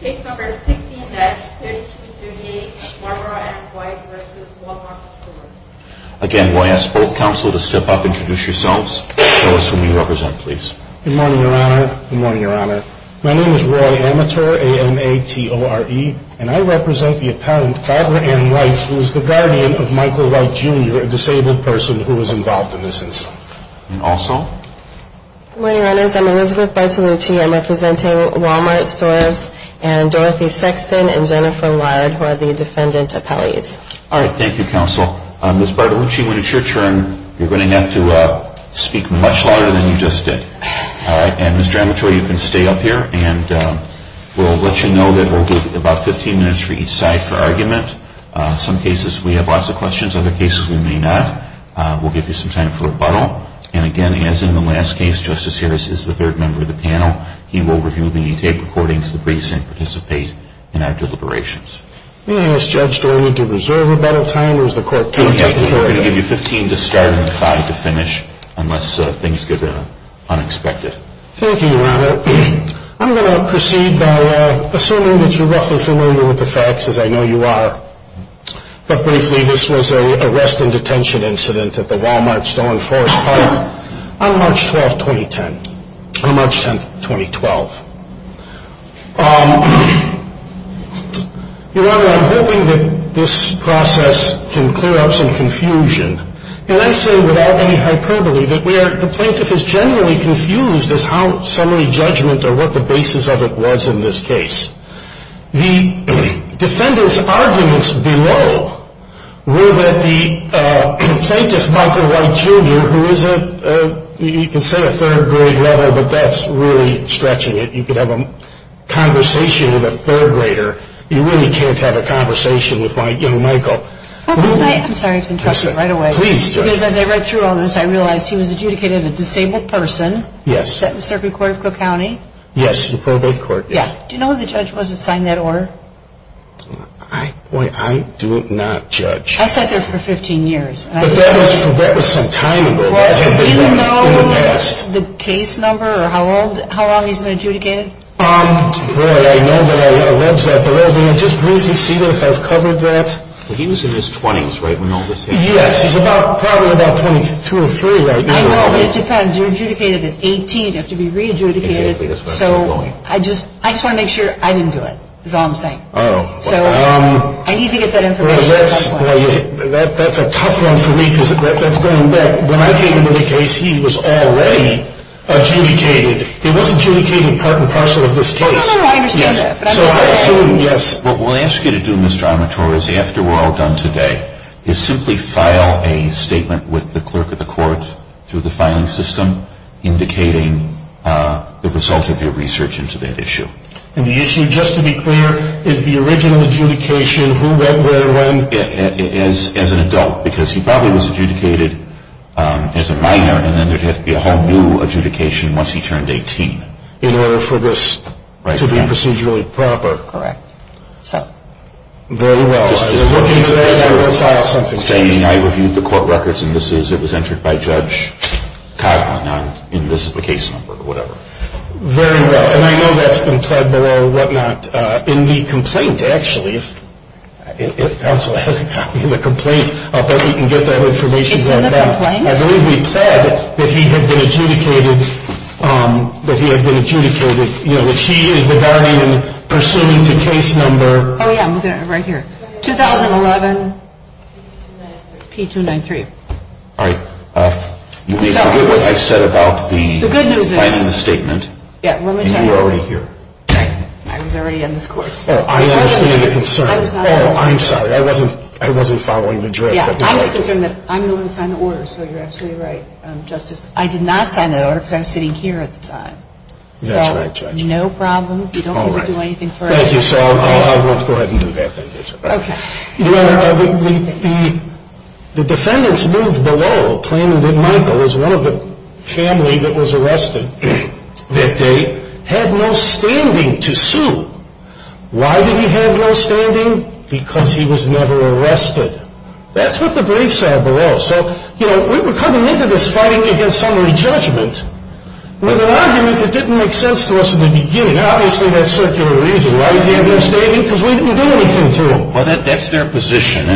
Case No. 16-5238, Barbara Ann White v. Wal-Mart Stores Again, I ask both counsel to step up and introduce yourselves. Tell us who you represent, please. Good morning, Your Honor. Good morning, Your Honor. My name is Roy Amateur, A-M-A-T-O-R-E, and I represent the appellant, Barbara Ann White, who is the guardian of Michael White, Jr., a disabled person who was involved in this incident. And also? Good morning, Your Honors. I'm Elizabeth Bartolucci. I'm representing Wal-Mart Stores and Dorothy Sexton and Jennifer Lard, who are the defendant appellees. All right. Thank you, counsel. Ms. Bartolucci, when it's your turn, you're going to have to speak much louder than you just did. All right? And Mr. Amateur, you can stay up here, and we'll let you know that we'll give you about 15 minutes for each side for argument. In some cases, we have lots of questions. In other cases, we may not. We'll give you some time for rebuttal. And, again, as in the last case, Justice Harris is the third member of the panel. He will review the tape recordings that we sent to participate in our deliberations. May I ask Judge Dorman to reserve a bit of time, or is the court content? We're going to give you 15 to start and five to finish, unless things get unexpected. Thank you, Your Honor. I'm going to proceed by assuming that you're roughly familiar with the facts, as I know you are. But, briefly, this was an arrest and detention incident at the Walmart Stone Forest Park on March 10, 2012. Your Honor, I'm hoping that this process can clear up some confusion. And I say, without any hyperbole, that the plaintiff is generally confused as to how summary judgment or what the basis of it was in this case. The defendant's arguments below were that the plaintiff, Michael White, Jr., who is a, you can say a third grade level, but that's really stretching it. You could have a conversation with a third grader. You really can't have a conversation with my young Michael. I'm sorry to interrupt you right away. Please, Judge. Because as I read through all this, I realized he was adjudicated a disabled person. Yes. At the Circuit Court of Cook County. Yes, the probate court. Yeah. Do you know who the judge was that signed that order? Boy, I do not, Judge. I sat there for 15 years. But that was some time ago. Do you know the case number or how long he's been adjudicated? Boy, I know that I read that, but let me just briefly see if I've covered that. He was in his 20s, right? Yes. He's probably about 22 or 23, right? I know, but it depends. You're adjudicated at 18. You have to be re-adjudicated. Exactly. So I just want to make sure I didn't do it, is all I'm saying. Oh. So I need to get that information at some point. Boy, that's a tough one for me because that's going back. When I came into the case, he was already adjudicated. He wasn't adjudicated part and parcel of this case. No, no, no. I understand that. Yes. What we'll ask you to do, Ms. Dramatore, is after we're all done today, is simply file a statement with the clerk of the court through the filing system indicating the result of your research into that issue. And the issue, just to be clear, is the original adjudication. Who went where when? As an adult because he probably was adjudicated as a minor, and then there'd have to be a whole new adjudication once he turned 18. In order for this to be procedurally proper. Correct. So, very well. We're looking to file something. I'm saying I reviewed the court records and this is, it was entered by Judge Coughlin. And this is the case number or whatever. Very well. And I know that's been pled below what not in the complaint, actually. If counsel has the complaint, I'll bet we can get that information back. It's in the complaint? I believe we pled that he had been adjudicated, that he had been adjudicated, which he is the guardian pursuant to case number. Oh, yeah. Right here. 2011-P-293. All right. You may forget what I said about the filing the statement. Yeah, let me tell you. And you were already here. Dang it. I was already in this court. Oh, I understand your concern. I was not. Oh, I'm sorry. I wasn't following the drift. Yeah, I'm just concerned that I'm the one who signed the order, so you're absolutely right, Justice. I did not sign that order because I was sitting here at the time. That's right, Judge. So, no problem. All right. You don't need to do anything for it. Thank you. So I won't go ahead and do that. Thank you, Judge. Okay. The defendants moved below claiming that Michael was one of the family that was arrested that day, had no standing to sue. Why did he have no standing? Because he was never arrested. That's what the brief said below. So, you know, we were coming into this fighting against summary judgment with an argument that didn't make sense to us in the beginning. And obviously that's circular reason. Why does he have no standing? Because we didn't do anything to him. Well, that's their position.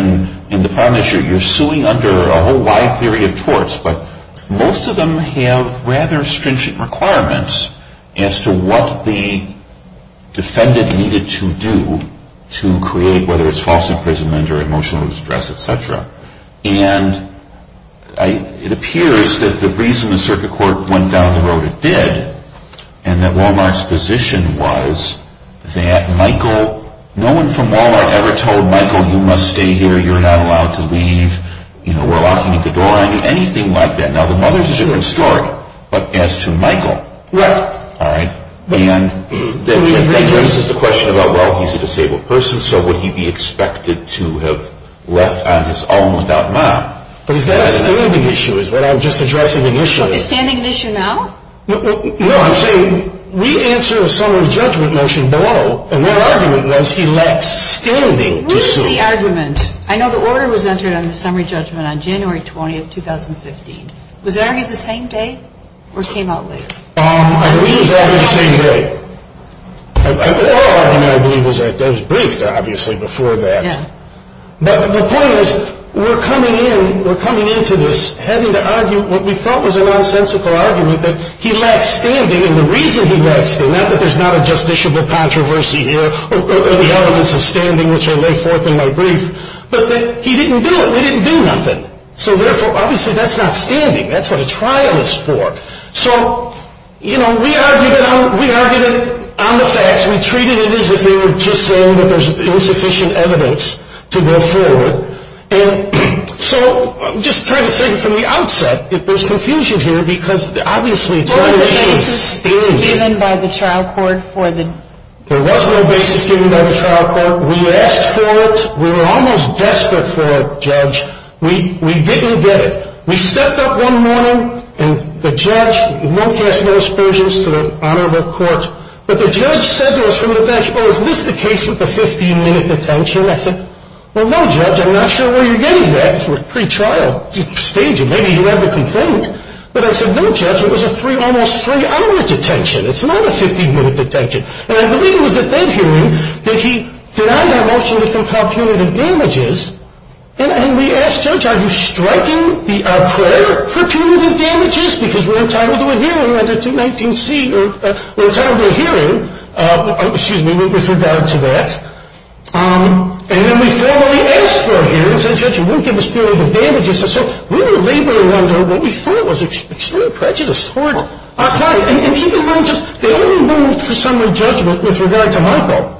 And the problem is you're suing under a whole wide theory of torts, but most of them have rather stringent requirements as to what the defendant needed to do to create, whether it's false imprisonment or emotional distress, et cetera. And it appears that the reason the circuit court went down the road it did and that Wal-Mart's position was that Michael, no one from Wal-Mart ever told Michael, you must stay here, you're not allowed to leave, you know, we're locking the door on you, anything like that. Now, the mother's a different story, but as to Michael. Right. All right. And that raises the question about, well, he's a disabled person, so would he be expected to have left on his own without mom? But is that a standing issue is what I'm just addressing initially. Is standing an issue now? No, I'm saying we answer a summary judgment motion below, and their argument was he lacks standing to sue. What is the argument? I know the order was entered on the summary judgment on January 20th, 2015. Was it argued the same day or came out later? I believe it was argued the same day. Our argument, I believe, was briefed, obviously, before that. Yeah. But the point is, we're coming into this having to argue what we thought was a nonsensical argument, that he lacks standing, and the reason he lacks standing, not that there's not a justiciable controversy here, or the elements of standing which are laid forth in my brief, but that he didn't do it. They didn't do nothing. So, therefore, obviously, that's not standing. That's what a trial is for. So, you know, we argued it on the facts. Yes, we treated it as if they were just saying that there's insufficient evidence to go forward. And so I'm just trying to say from the outset that there's confusion here because, obviously, it's not an issue of standing. Was there a basis given by the trial court for the? There was no basis given by the trial court. We asked for it. We were almost desperate for it, Judge. We didn't get it. We stepped up one morning, and the judge, we won't cast no aspersions to the honorable court, but the judge said to us from the bench, well, is this the case with the 15-minute detention? I said, well, no, Judge, I'm not sure where you're getting that. We're pre-trial staging. Maybe you have a complaint. But I said, no, Judge, it was a three, almost three-hour detention. It's not a 15-minute detention. And I believe it was at that hearing that he denied our motion to compel punitive damages, and we asked Judge, are you striking the prayer for punitive damages because we're entitled to a hearing under 219C or we're entitled to a hearing, excuse me, with regard to that. And then we formally asked for a hearing and said, Judge, you wouldn't give us period of damages. And so we were laboring under what we thought was extreme prejudice toward our client. And keep in mind, they only moved for summary judgment with regard to Michael.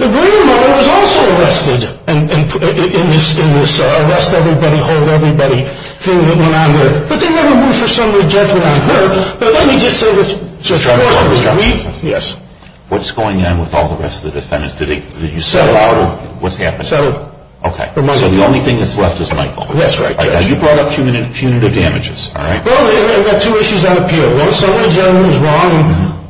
The grandmother was also arrested in this arrest everybody, hold everybody thing that went on there. But they never moved for summary judgment on her. But let me just say this, Judge, of course it was me. Yes. What's going on with all the rest of the defendants? Did you settle out, or what's happened? Settled. Okay. So the only thing that's left is Michael. That's right, Judge. You brought up punitive damages, all right? Well, there were two issues on appeal. Summary judgment was wrong, and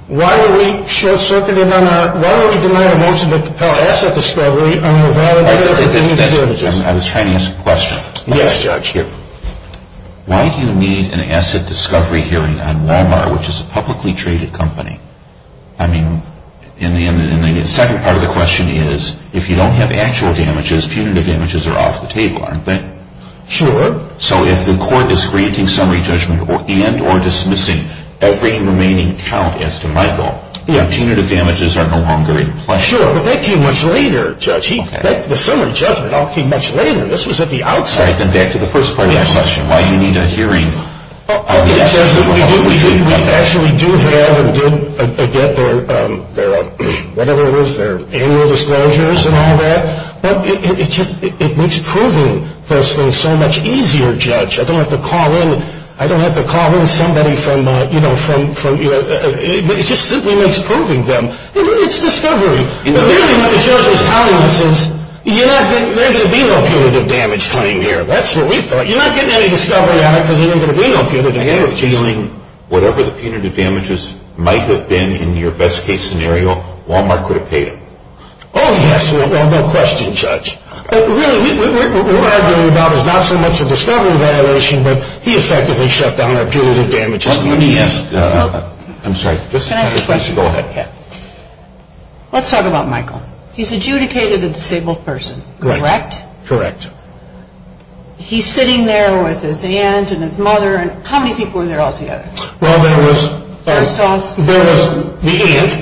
why were we short-circuited on our, why were we denied a motion to compel asset discovery on the value of punitive damages? I was trying to ask a question. Yes, Judge. Why do you need an asset discovery hearing on Walmart, which is a publicly traded company? I mean, and the second part of the question is, if you don't have actual damages, punitive damages are off the table, aren't they? Sure. So if the court is granting summary judgment and or dismissing every remaining count as to Michael, punitive damages are no longer in play. Sure, but that came much later, Judge. The summary judgment all came much later. This was at the outset. All right. Then back to the first part of your question, why do you need a hearing on the asset discovery? We actually do have and did get their, whatever it was, their annual disclosures and all that. But it just, it makes proving those things so much easier, Judge. I don't have to call in, I don't have to call in somebody from, you know, from, you know, it just simply makes proving them. It's discovery. But really what the judge was telling us is, you're not getting, there ain't going to be no punitive damage coming here. That's what we thought. You're not getting any discovery out of it because there ain't going to be no punitive damage. You're dealing whatever the punitive damages might have been in your best case scenario, Walmart could have paid them. Oh, yes. Well, no question, Judge. But really, what we're arguing about is not so much a discovery evaluation, but he effectively shut down our punitive damages. Let me ask, I'm sorry. Go ahead. Let's talk about Michael. He's adjudicated a disabled person, correct? Correct. He's sitting there with his aunt and his mother. How many people were there altogether? Well, there was the aunt,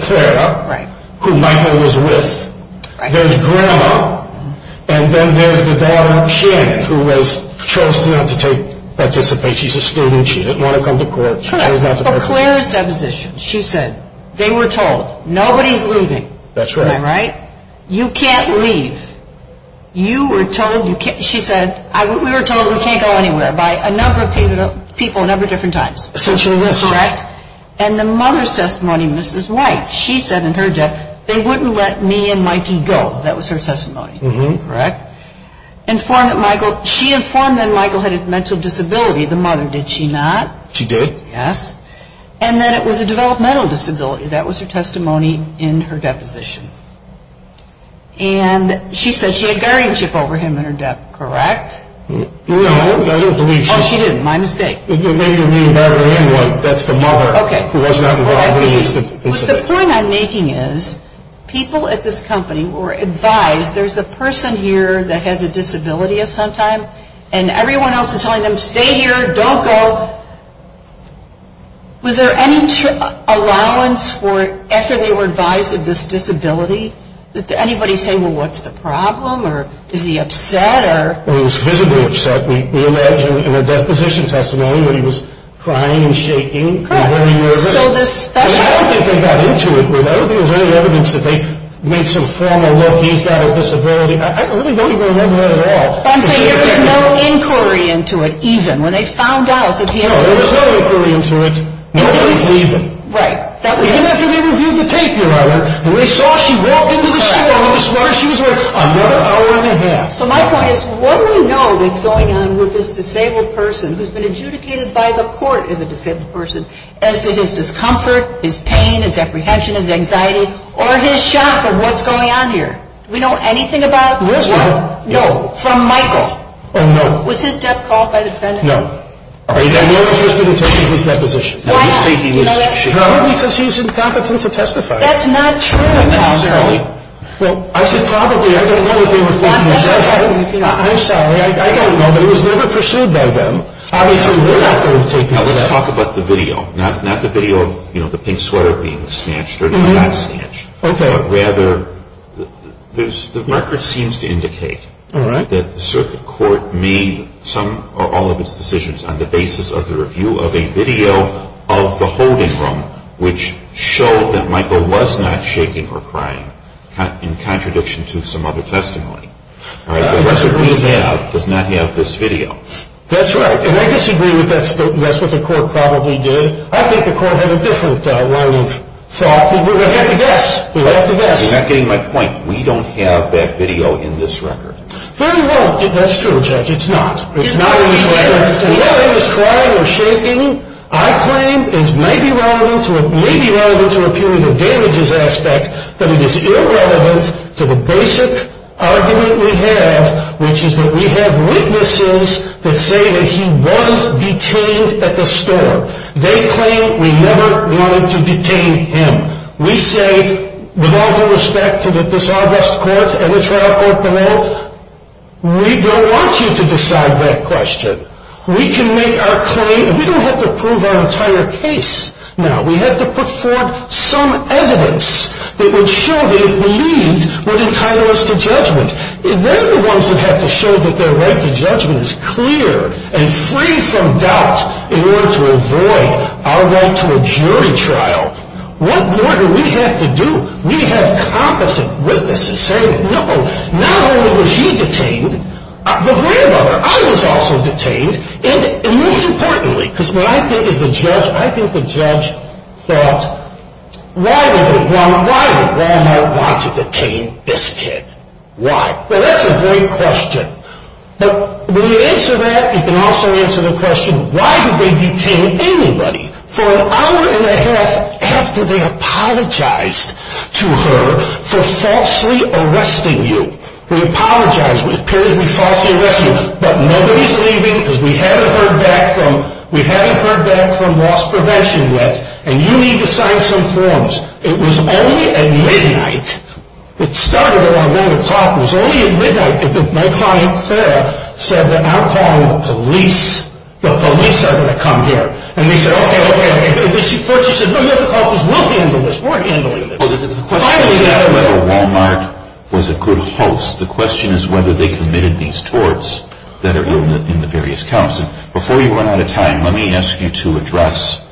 Clara, who Michael was with. There's grandma. And then there's the daughter, Shannon, who chose not to participate. She's a student. She didn't want to come to court. She chose not to participate. Correct. But Clara's deposition. She said, they were told, nobody's leaving. That's right. Am I right? You can't leave. You were told you can't. She said, we were told we can't go anywhere by a number of people in a number of different times. Essentially this. Correct. And the mother's testimony, Mrs. White, she said in her death, they wouldn't let me and Mikey go. That was her testimony. Correct. She informed that Michael had a mental disability. The mother, did she not? She did. Yes. And that it was a developmental disability. That was her testimony in her deposition. And she said she had guardianship over him in her death. Correct? No, I don't believe she did. Oh, she didn't. My mistake. It may have been the mother. That's the mother. Okay. Who was not involved in the incident. The point I'm making is, people at this company were advised, there's a person here that has a disability of some type, and everyone else is telling them, stay here, don't go. Was there any allowance for, after they were advised of this disability, did anybody say, well, what's the problem? Or is he upset? Well, he was visibly upset. We imagine in her deposition testimony where he was crying and shaking. Correct. I don't think they got into it. I don't think there was any evidence that they made some formal look, he's got a disability. I really don't even remember that at all. I'm saying there was no inquiry into it even when they found out that he had a disability. No, there was no inquiry into it when he was leaving. Right. Even after they reviewed the tape, your Honor, when they saw she walked into the store with a sweater, she was there another hour and a half. So my point is, what do we know that's going on with this disabled person who's been adjudicated by the court as a disabled person as to his discomfort, his pain, his apprehension, his anxiety, or his shock of what's going on here? Do we know anything about what? Yes, we do. No. From Michael. Oh, no. Was his death called by the defendant? No. Are you interested in taking his deposition? Why? Because he's incompetent to testify. That's not true. Not necessarily. Well, I said probably. I don't know what they were thinking. I'm sorry. I don't know. But it was never pursued by them. Obviously, we're not going to take his death. Let's talk about the video. Not the video of the pink sweater being snatched or not snatched. Okay. But rather, the record seems to indicate that the circuit court made some or all of its decisions on the basis of the review of a video of the holding room, which showed that Michael was not shaking or crying in contradiction to some other testimony. The record we have does not have this video. That's right. And I disagree with that's what the court probably did. I think the court had a different line of thought. We'll have to guess. We'll have to guess. You're not getting my point. We don't have that video in this record. Well, you won't. That's true, Jack. It's not. It's not in this record. Whether he was crying or shaking, I claim, may be relevant to a period of damages aspect, but it is irrelevant to the basic argument we have, which is that we have witnesses that say that he was detained at the store. They claim we never wanted to detain him. We say, with all due respect to this August court and the trial court below, we don't want you to decide that question. We can make our claim. We don't have to prove our entire case. Now, we have to put forward some evidence that would show that if believed, would entitle us to judgment. They're the ones that have to show that their right to judgment is clear and free from doubt in order to avoid our right to a jury trial. What more do we have to do? We have competent witnesses saying, no, not only was he detained, the grandmother, I was also detained. And most importantly, because what I think as a judge, I think the judge thought, why did the grandma want to detain this kid? Why? Well, that's a great question. But when you answer that, you can also answer the question, why did they detain anybody for an hour and a half after they apologized to her for falsely arresting you? We apologize. It appears we falsely arrested you. But nobody's leaving because we haven't heard back from, we haven't heard back from loss prevention yet. And you need to sign some forms. It was only at midnight. It started around one o'clock. It was only at midnight that my client, Farrah, said that I'm calling the police. The police are going to come here. And they said, OK, OK, OK. First, she said, no, no, the caucus will handle this. We're handling this. Well, the question is not whether Walmart was a good host. The question is whether they committed these torts that are in the various counts. And before you run out of time, let me ask you to address,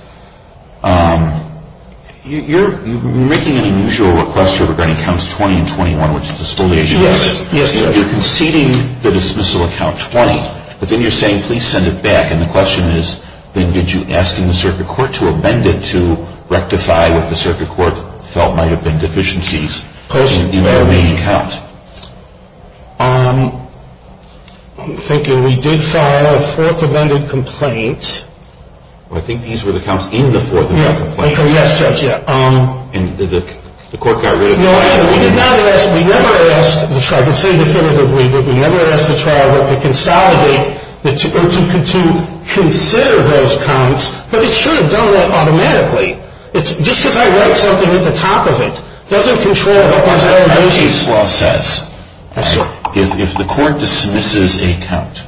you're making an unusual request regarding counts 20 and 21, which is a spoliation. Yes. You're conceding the dismissal of count 20. But then you're saying, please send it back. And the question is, did you ask the circuit court to amend it to rectify what the circuit court felt might have been deficiencies in that main count? I'm thinking we did file a fourth amended complaint. I think these were the counts in the fourth amended complaint. Yes, Judge, yeah. And the court got rid of it. We never asked the trial. I can say definitively that we never asked the trial to consolidate or to consider those counts. But it should have done that automatically. It's just because I write something at the top of it doesn't control what the case law says. If the court dismisses a count,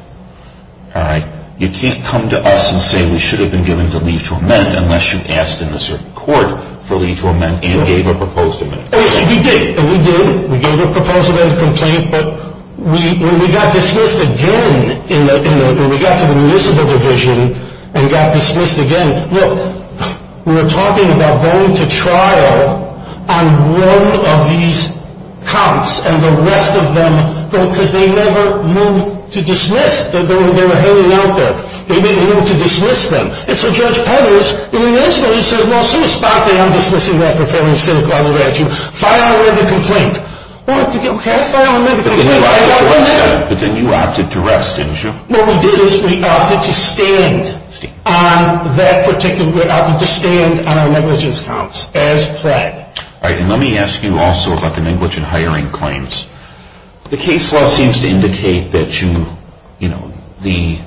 all right, you can't come to us and say we should have been given the leave to amend unless you asked in a certain court for leave to amend and gave a proposed amendment. We did. We did. We gave a proposed amendment complaint. But when we got dismissed again, when we got to the municipal division and got dismissed again, look, we were talking about going to trial on one of these counts and the rest of them because they never moved to dismiss. They were hanging out there. They didn't move to dismiss them. And so Judge Petters, in the municipal, he said, well, since Bob Day, I'm dismissing that for failing to sit across the regime, file an amended complaint. Well, okay, file an amended complaint. But then you opted to rest, didn't you? What we did is we opted to stand on that particular, we opted to stand on our negligence counts as pled. All right, and let me ask you also about the negligent hiring claims. The case law seems to indicate that you, you know, the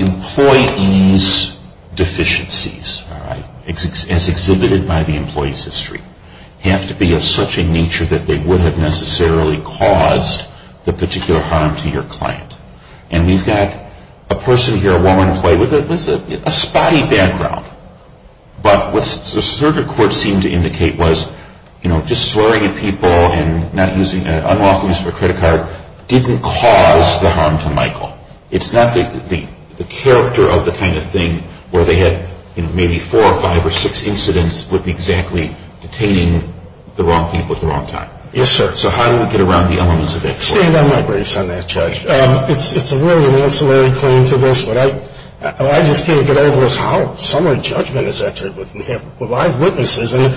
employee's deficiencies, all right, as exhibited by the employee's history, have to be of such a nature that they would have necessarily caused the particular harm to your client. And we've got a person here, a woman employee with a spotty background. But what the circuit court seemed to indicate was, you know, just slurring at people and not using an unlawful use of a credit card didn't cause the harm to Michael. It's not the character of the kind of thing where they had, you know, maybe four or five or six incidents with exactly detaining the wrong people at the wrong time. Yes, sir. So how do we get around the elements of that? Stand on my briefs on that, Judge. It's really an ancillary claim to this. What I just can't get over is how some of the judgment is entered with live witnesses in an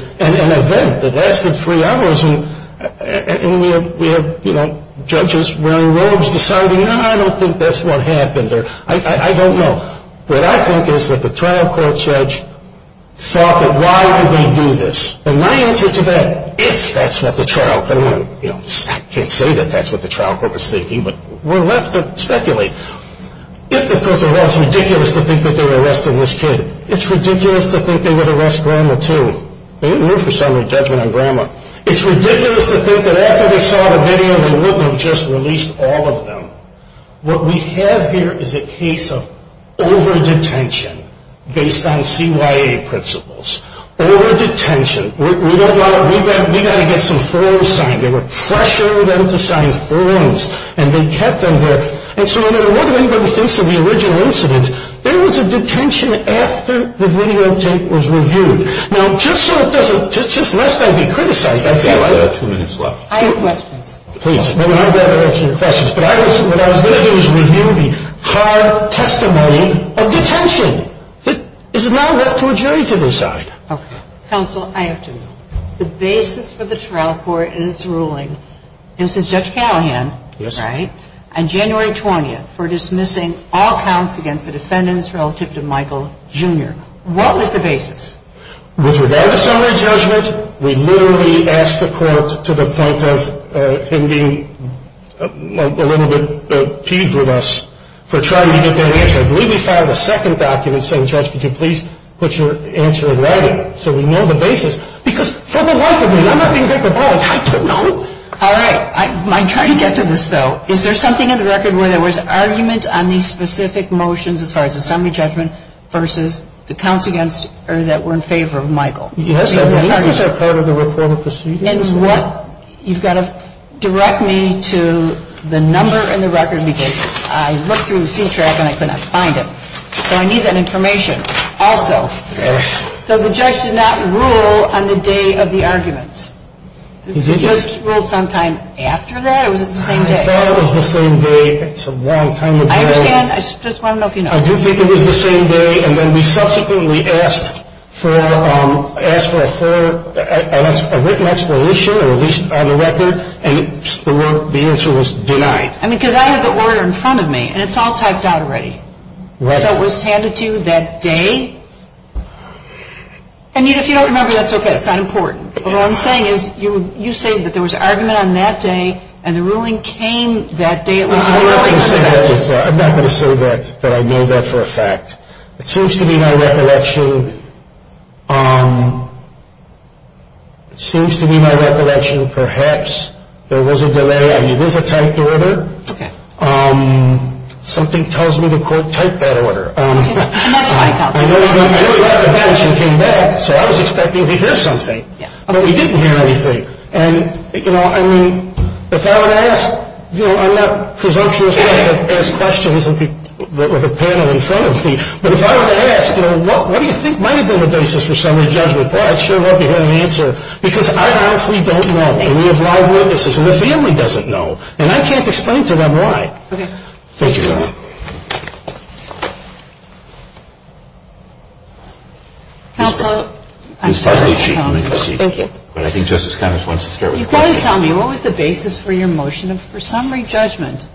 event that lasted three hours. And we have, you know, judges wearing robes deciding, no, I don't think that's what happened, or I don't know. What I think is that the trial court judge thought that why would they do this? And my answer to that, if that's what the trial court, you know, I can't say that that's what the trial court was thinking, but we're left to speculate. If the court said, well, it's ridiculous to think that they're arresting this kid, it's ridiculous to think they would arrest Grandma, too. They didn't do it for summary judgment on Grandma. It's ridiculous to think that after they saw the video, they wouldn't have just released all of them. What we have here is a case of over-detention based on CYA principles. Over-detention. We don't want to, we got to get some forms signed. They were pressuring them to sign forms, and they kept them there. And so no matter what anybody thinks of the original incident, there was a detention after the videotape was reviewed. Now, just so it doesn't, just lest I be criticized, I feel like. We have two minutes left. I have questions. Please, maybe I'm better at answering questions, but what I was going to do was review the hard testimony of detention. It is now left to a jury to decide. Okay. Counsel, I have two. The basis for the trial court in its ruling, it was Judge Callahan, right? Yes. On January 20th for dismissing all counts against the defendants relative to Michael Jr. What was the basis? With regard to summary judgment, we literally asked the court to the point of him being a little bit piqued with us for trying to get that answer. I believe we filed a second document saying, Judge, could you please put your answer in writing so we know the basis. Because for the life of me, I'm not being good for politics. I don't know. All right. I'm trying to get to this, though. Is there something in the record where there was argument on these specific motions as far as the summary judgment versus the counts against or that were in favor of Michael? Yes. I believe it was a part of the report of proceedings. And what you've got to direct me to the number in the record because I looked through C-TRAC and I could not find it. So I need that information also. So the judge did not rule on the day of the arguments. Did the judge rule sometime after that or was it the same day? I thought it was the same day. It's a long time ago. I understand. I just want to know if you know. I do think it was the same day. And then we subsequently asked for a written explanation or at least on the record, and the answer was denied. I mean, because I have the order in front of me, and it's all typed out already. Right. So it was handed to you that day. And if you don't remember, that's okay. It's not important. But what I'm saying is you say that there was argument on that day, and the ruling came that day. I'm not going to say that I know that for a fact. It seems to be my recollection. It seems to be my recollection perhaps there was a delay. I mean, it was a typed order. Okay. Something tells me the court typed that order. I know you left the bench and came back, so I was expecting to hear something. But we didn't hear anything. And, you know, I mean, if I were to ask, you know, I'm not presumptuous enough to ask questions with a panel in front of me, but if I were to ask, you know, what do you think might have been the basis for summary judgment, Paul, I sure hope you had an answer, because I honestly don't know. And we have live witnesses, and the family doesn't know. And I can't explain to them why. Okay. Thank you, Your Honor. Counsel. Thank you. But I think Justice Connors wants to start with the question. You've got to tell me, what was the basis for your motion for summary judgment?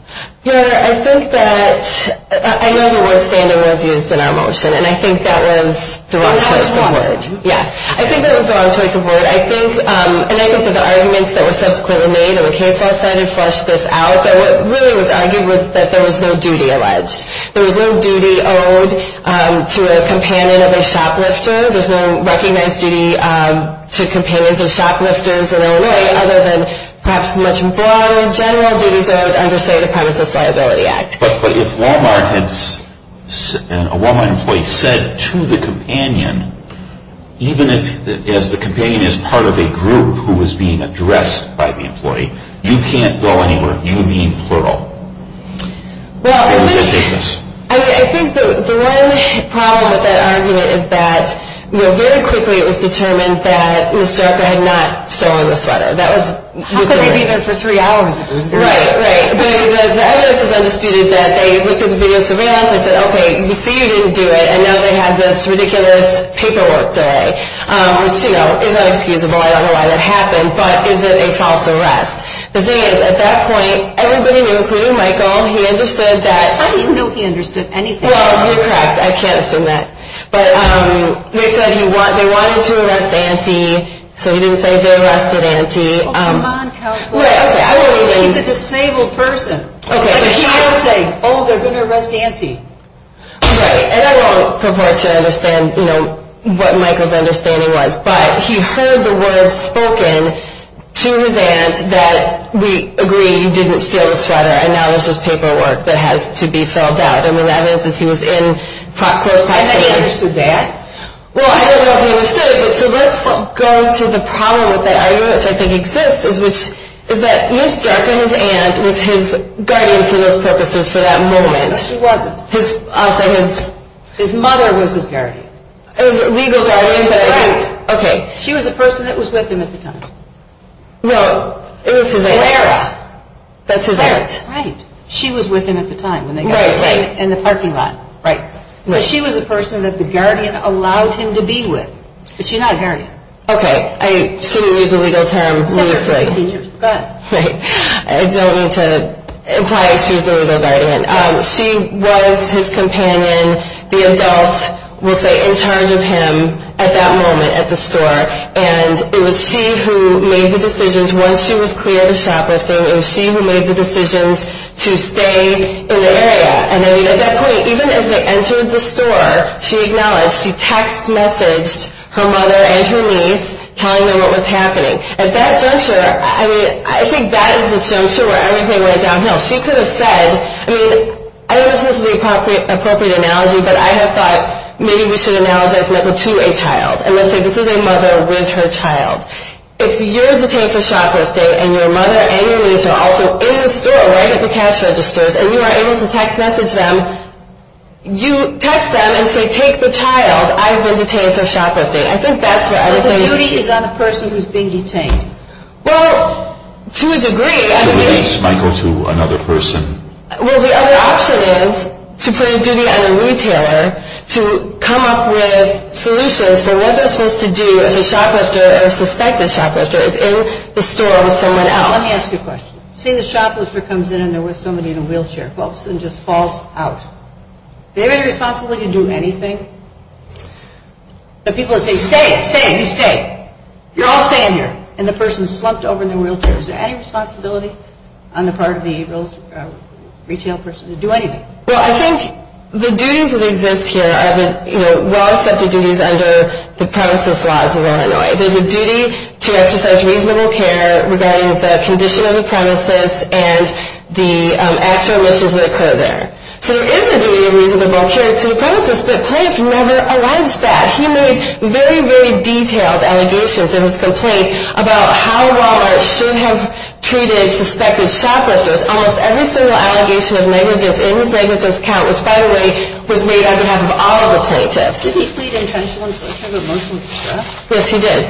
Your Honor, I think that I know the word standard was used in our motion, and I think that was the wrong choice of word. Yeah. I think that was the wrong choice of word. I think, and I go for the arguments that were subsequently made on the case law side and flushed this out, that what really was argued was that there was no duty alleged. There was no duty owed to a companion of a shoplifter. There was no recognized duty to companions of shoplifters in Illinois, other than perhaps much more in general duties owed under, say, the Premises Liability Act. But if a Walmart employee said to the companion, even as the companion is part of a group who is being addressed by the employee, you can't go anywhere, you being plural. Well, I think the one problem with that argument is that very quickly it was determined that Ms. Jericho had not stolen the sweater. How could they be there for three hours? Right, right. The evidence is undisputed that they looked at the video surveillance and said, okay, we see you didn't do it, and now they had this ridiculous paperwork day, which is inexcusable. I don't know why that happened, but is it a false arrest? The thing is, at that point, everybody, including Michael, he understood that. How do you know he understood anything? Well, you're correct. I can't assume that. But they said they wanted to arrest Auntie, so he didn't say they arrested Auntie. Oh, come on, Counsel. Right, okay. He's a disabled person. Okay. But he didn't say, oh, they're going to arrest Auntie. Right, and I won't purport to understand what Michael's understanding was, but he heard the words spoken to his aunt that we agree you didn't steal the sweater, and now there's this paperwork that has to be filled out. I mean, that means that he was in close proximity. And that he understood that? Well, I don't know if he understood it, but so let's go to the problem with that argument, which I think exists, which is that Mr. and his aunt was his guardian for those purposes for that moment. No, she wasn't. His mother was his guardian. It was a legal guardian, but I think, okay. She was a person that was with him at the time. No, it was his aunt. Clara. That's his aunt. Right. She was with him at the time. Right. In the parking lot. Right. So she was a person that the guardian allowed him to be with, but she's not a guardian. Okay. I shouldn't use the legal term loosely. Go ahead. I don't mean to imply she's the legal guardian. She was his companion. The adult was in charge of him at that moment at the store, and it was she who made the decisions once she was clear of the shoplifting. It was she who made the decisions to stay in the area. And, I mean, at that point, even as they entered the store, she acknowledged. She text messaged her mother and her niece telling them what was happening. At that juncture, I mean, I think that is the juncture where everything went downhill. She could have said, I mean, I don't know if this is the appropriate analogy, but I have thought maybe we should analogize Mecca to a child, and let's say this is a mother with her child. If you're detained for shoplifting and your mother and your niece are also in the store right at the cash registers and you are able to text message them, you text them and say, take the child. I have been detained for shoplifting. I think that's where everything is. So the duty is on the person who's being detained. Well, to a degree. To release Michael to another person. Well, the other option is to put a duty on a retailer to come up with solutions for what they're supposed to do if a shoplifter or a suspected shoplifter is in the store with someone else. Let me ask you a question. Say the shoplifter comes in and there was somebody in a wheelchair. All of a sudden just falls out. Do they have any responsibility to do anything? The people that say, stay, stay, you stay. You're all staying here. And the person is slumped over in their wheelchair. Is there any responsibility on the part of the retail person to do anything? Well, I think the duties that exist here are the well-expected duties under the premises laws of Illinois. There's a duty to exercise reasonable care regarding the condition of the premises and the extra emissions that occur there. So there is a duty of reasonable care to the premises, but Plank never alleged that. He made very, very detailed allegations in his complaint about how Walmart should have treated suspected shoplifters. Almost every single allegation of negligence in his negligence count, which, by the way, was made on behalf of all of the plaintiffs. Did he plead intentional and coercive emotional distress? Yes, he did.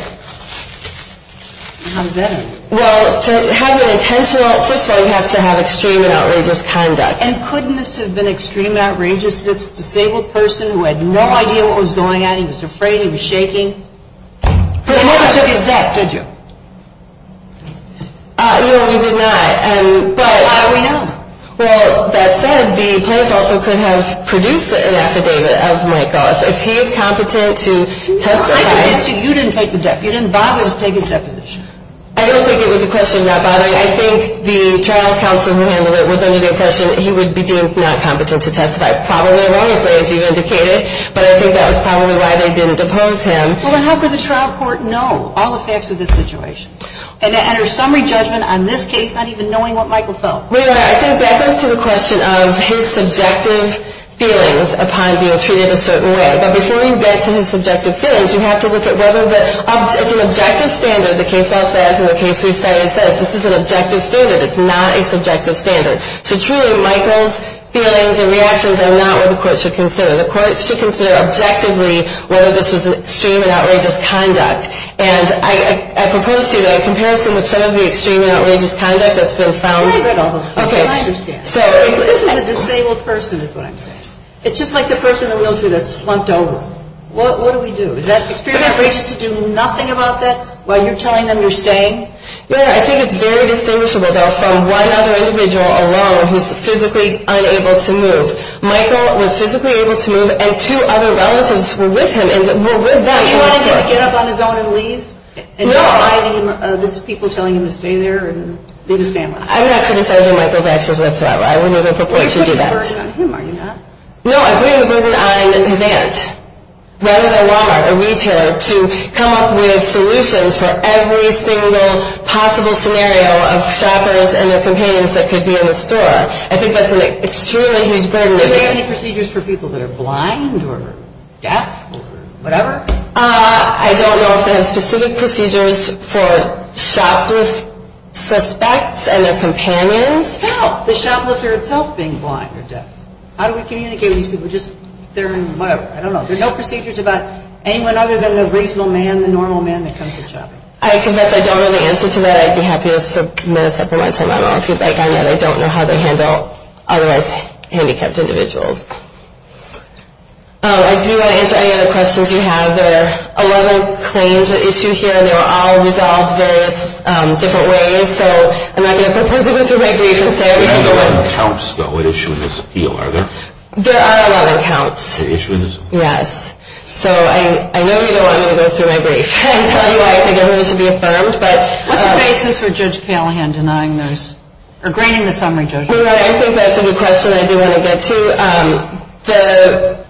How does that end? Well, to have an intentional, first of all, you have to have extreme and outrageous conduct. And couldn't this have been extreme and outrageous? It's a disabled person who had no idea what was going on. He was afraid. He was shaking. But you never took his debt, did you? No, we did not. But how do we know? Well, that said, the plaintiff also could have produced an affidavit of Mike Goss. If he is competent to testify. You didn't take the debt. You didn't bother to take his deposition. I don't think it was a question of not bothering. I think the trial counsel who handled it was under the impression that he would be deemed not competent to testify. Probably erroneously, as you indicated, but I think that was probably why they didn't depose him. Well, then how could the trial court know all the facts of this situation? And to enter summary judgment on this case, not even knowing what Michael felt? Well, you're right. I think that goes to the question of his subjective feelings upon being treated a certain way. But before you get to his subjective feelings, you have to look at whether it's an objective standard. The case law says, and the case resetting says, this is an objective standard. It's not a subjective standard. So truly, Michael's feelings and reactions are not what the court should consider. The court should consider objectively whether this was an extreme and outrageous conduct. And I propose to you that a comparison with some of the extreme and outrageous conduct that's been found. I've read all those quotes, and I understand. This is a disabled person, is what I'm saying. It's just like the person in the wheelchair that's slumped over. What do we do? Is that experience outrageous to do nothing about that while you're telling them you're staying? Well, I think it's very distinguishable, though, from one other individual alone who's physically unable to move. Michael was physically able to move, and two other relatives were with him and were with that person. Did he want to get up on his own and leave? No. Instead of people telling him to stay there and leave his family? I'm not criticizing Michael's actions whatsoever. I would never purport to do that. You're putting the burden on him, are you not? No, I'm putting the burden on his aunt, rather than Walmart or retailer, to come up with solutions for every single possible scenario of shoppers and their companions that could be in the store. I think that's an extremely huge burden. Do they have any procedures for people that are blind or deaf or whatever? I don't know if they have specific procedures for shoplifter suspects and their companions. No. The shoplifter itself being blind or deaf. How do we communicate with these people? They're in whatever. I don't know. There are no procedures about anyone other than the reasonable man, the normal man that comes to the shop. I confess I don't know the answer to that. I'd be happy to submit a supplemental letter. I don't know if you'd like that. I don't know how they handle otherwise handicapped individuals. I do want to answer any other questions you have. There are 11 claims at issue here. They were all resolved various different ways. So I'm not going to propose to go through my brief and say everything. There are 11 counts, though, at issue in this appeal, are there? There are 11 counts. At issue in this appeal? Yes. So I know you don't want me to go through my brief and tell you why I think everything should be affirmed. What's the basis for Judge Callahan denying those or granting the summary judgment? Well, I think that's a good question I do want to get to.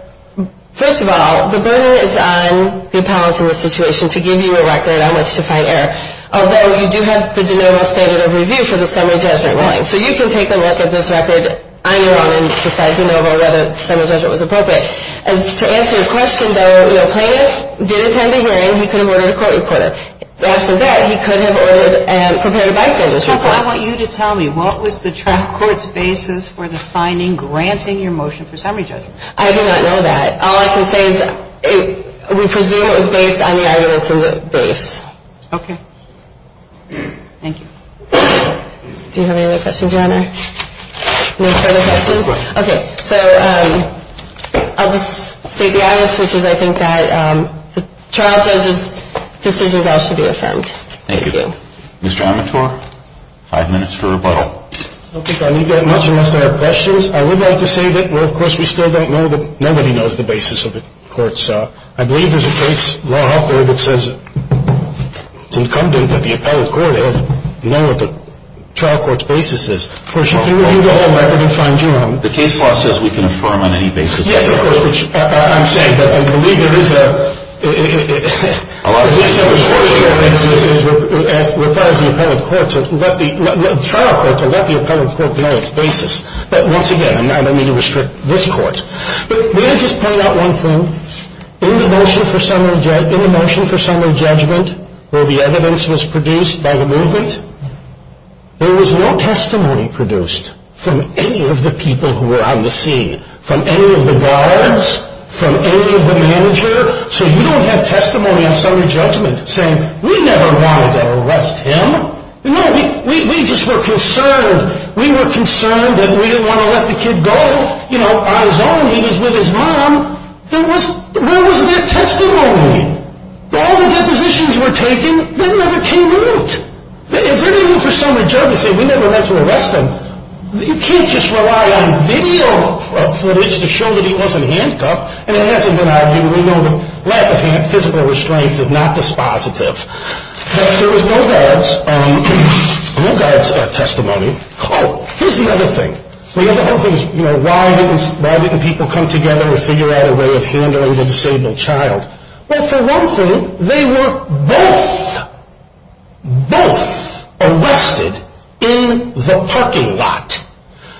First of all, the burden is on the appellate in this situation to give you a record on which to fight error. Although you do have the de novo standard of review for the summary judgment ruling. So you can take a look at this record on your own and decide de novo whether the summary judgment was appropriate. And to answer your question, though, plaintiff did attend a hearing. He could have ordered a court recorder. After that, he could have ordered and prepared a vice judge's report. So I want you to tell me, what was the trial court's basis for the finding granting your motion for summary judgment? I do not know that. All I can say is we presume it was based on the arguments in the base. Okay. Thank you. Do you have any other questions, Your Honor? No further questions? No. Okay. So I'll just state the obvious, which is I think that the trial judge's decision has to be affirmed. Thank you. Mr. Amatore, five minutes for rebuttal. I don't think I need that much unless I have questions. I would like to say that, well, of course, we still don't know that nobody knows the basis of the court's, I believe there's a case law out there that says it's incumbent that the appellate court have to know what the trial court's basis is. Of course, you can review the whole record and find your own. The case law says we can affirm on any basis. Yes, of course, which I'm saying that I believe there is a, at least I was fortunate enough as far as the appellate court to let the trial court to let the appellate court know its basis. But once again, I don't mean to restrict this court. But may I just point out one thing? In the motion for summary judgment where the evidence was produced by the movement, there was no testimony produced from any of the people who were on the scene, from any of the guards, from any of the manager. So you don't have testimony on summary judgment saying we never wanted to arrest him. No, we just were concerned. We were concerned that we didn't want to let the kid go, you know, on his own, he was with his mom. There was, where was that testimony? All the depositions were taken. They never came out. If they're going to go for summary judgment and say we never meant to arrest him, you can't just rely on video footage to show that he wasn't handcuffed. And it hasn't been argued. We know that lack of physical restraints is not dispositive. But there was no guard's testimony. Oh, here's the other thing. The other thing is, you know, why didn't people come together and figure out a way of handling the disabled child? Well, for one thing, they were both, both arrested in the parking lot.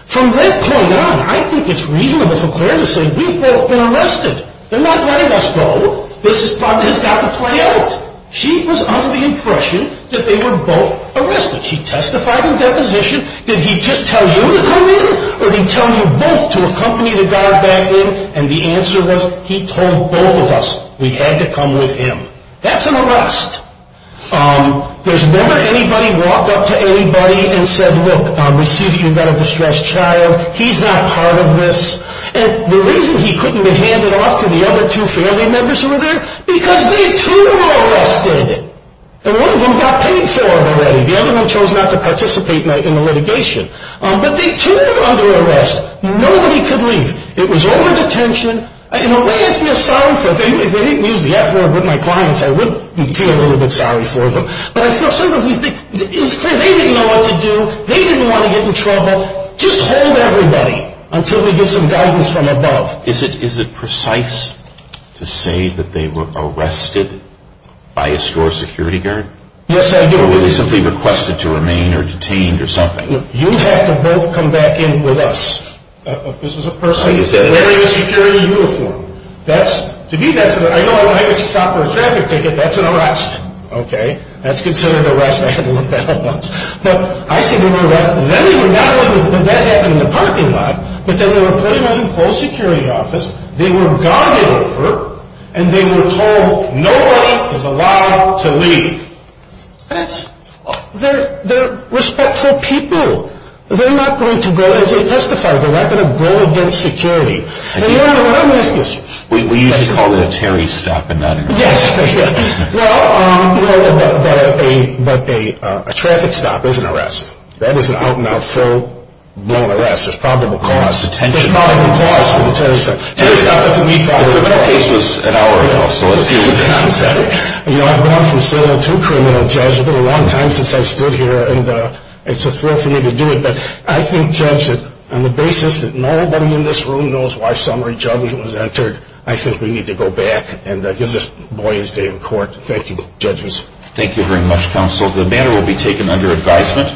From that point on, I think it's reasonable for Claire to say we've both been arrested. They're not letting us go. This has got to play out. She was under the impression that they were both arrested. She testified in deposition, did he just tell you to come in or did he tell you both to accompany the guard back in? And the answer was he told both of us we had to come with him. That's an arrest. There's never anybody walked up to anybody and said, look, we see that you've got a distressed child. He's not part of this. And the reason he couldn't be handed off to the other two family members who were there, because they, too, were arrested. And one of them got paid for it already. The other one chose not to participate in the litigation. But they, too, were under arrest. Nobody could leave. It was over-detention. In a way, I feel sorry for them. If they didn't use the F-word with my clients, I would feel a little bit sorry for them. But I feel, simply, it was clear they didn't know what to do. They didn't want to get in trouble. Just hold everybody until we get some guidance from above. Is it precise to say that they were arrested by a store security guard? Yes, I do. Or were they simply requested to remain or detained or something? You have to both come back in with us. This is a person wearing a security uniform. To me, that's an arrest. Okay? That's considered an arrest. I had to look that up once. But I say they were arrested. Not only did that happen in the parking lot, but they were put in a closed security office. They were guarded over. And they were told nobody is allowed to leave. They're respectful people. They're not going to go and testify. They're not going to go against security. We usually call it a Terry stop and not an arrest. Yes. But a traffic stop is an arrest. That is an out-and-out full-blown arrest. There's probable cause. There's probable cause for the Terry stop. Terry stop doesn't mean probable cause. The criminal case was an hour ago, so let's do it again. I'm sorry. You know, I've gone from serial to criminal, Judge. It's been a long time since I've stood here, and it's a thrill for me to do it. But I think, Judge, that on the basis that nobody in this room knows why summary judgement was entered, I think we need to go back and give this boy his day in court. Thank you, Judges. Thank you very much, Counsel. The matter will be taken under advisement.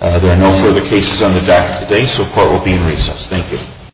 There are no further cases on the docket today, so court will be in recess. Thank you.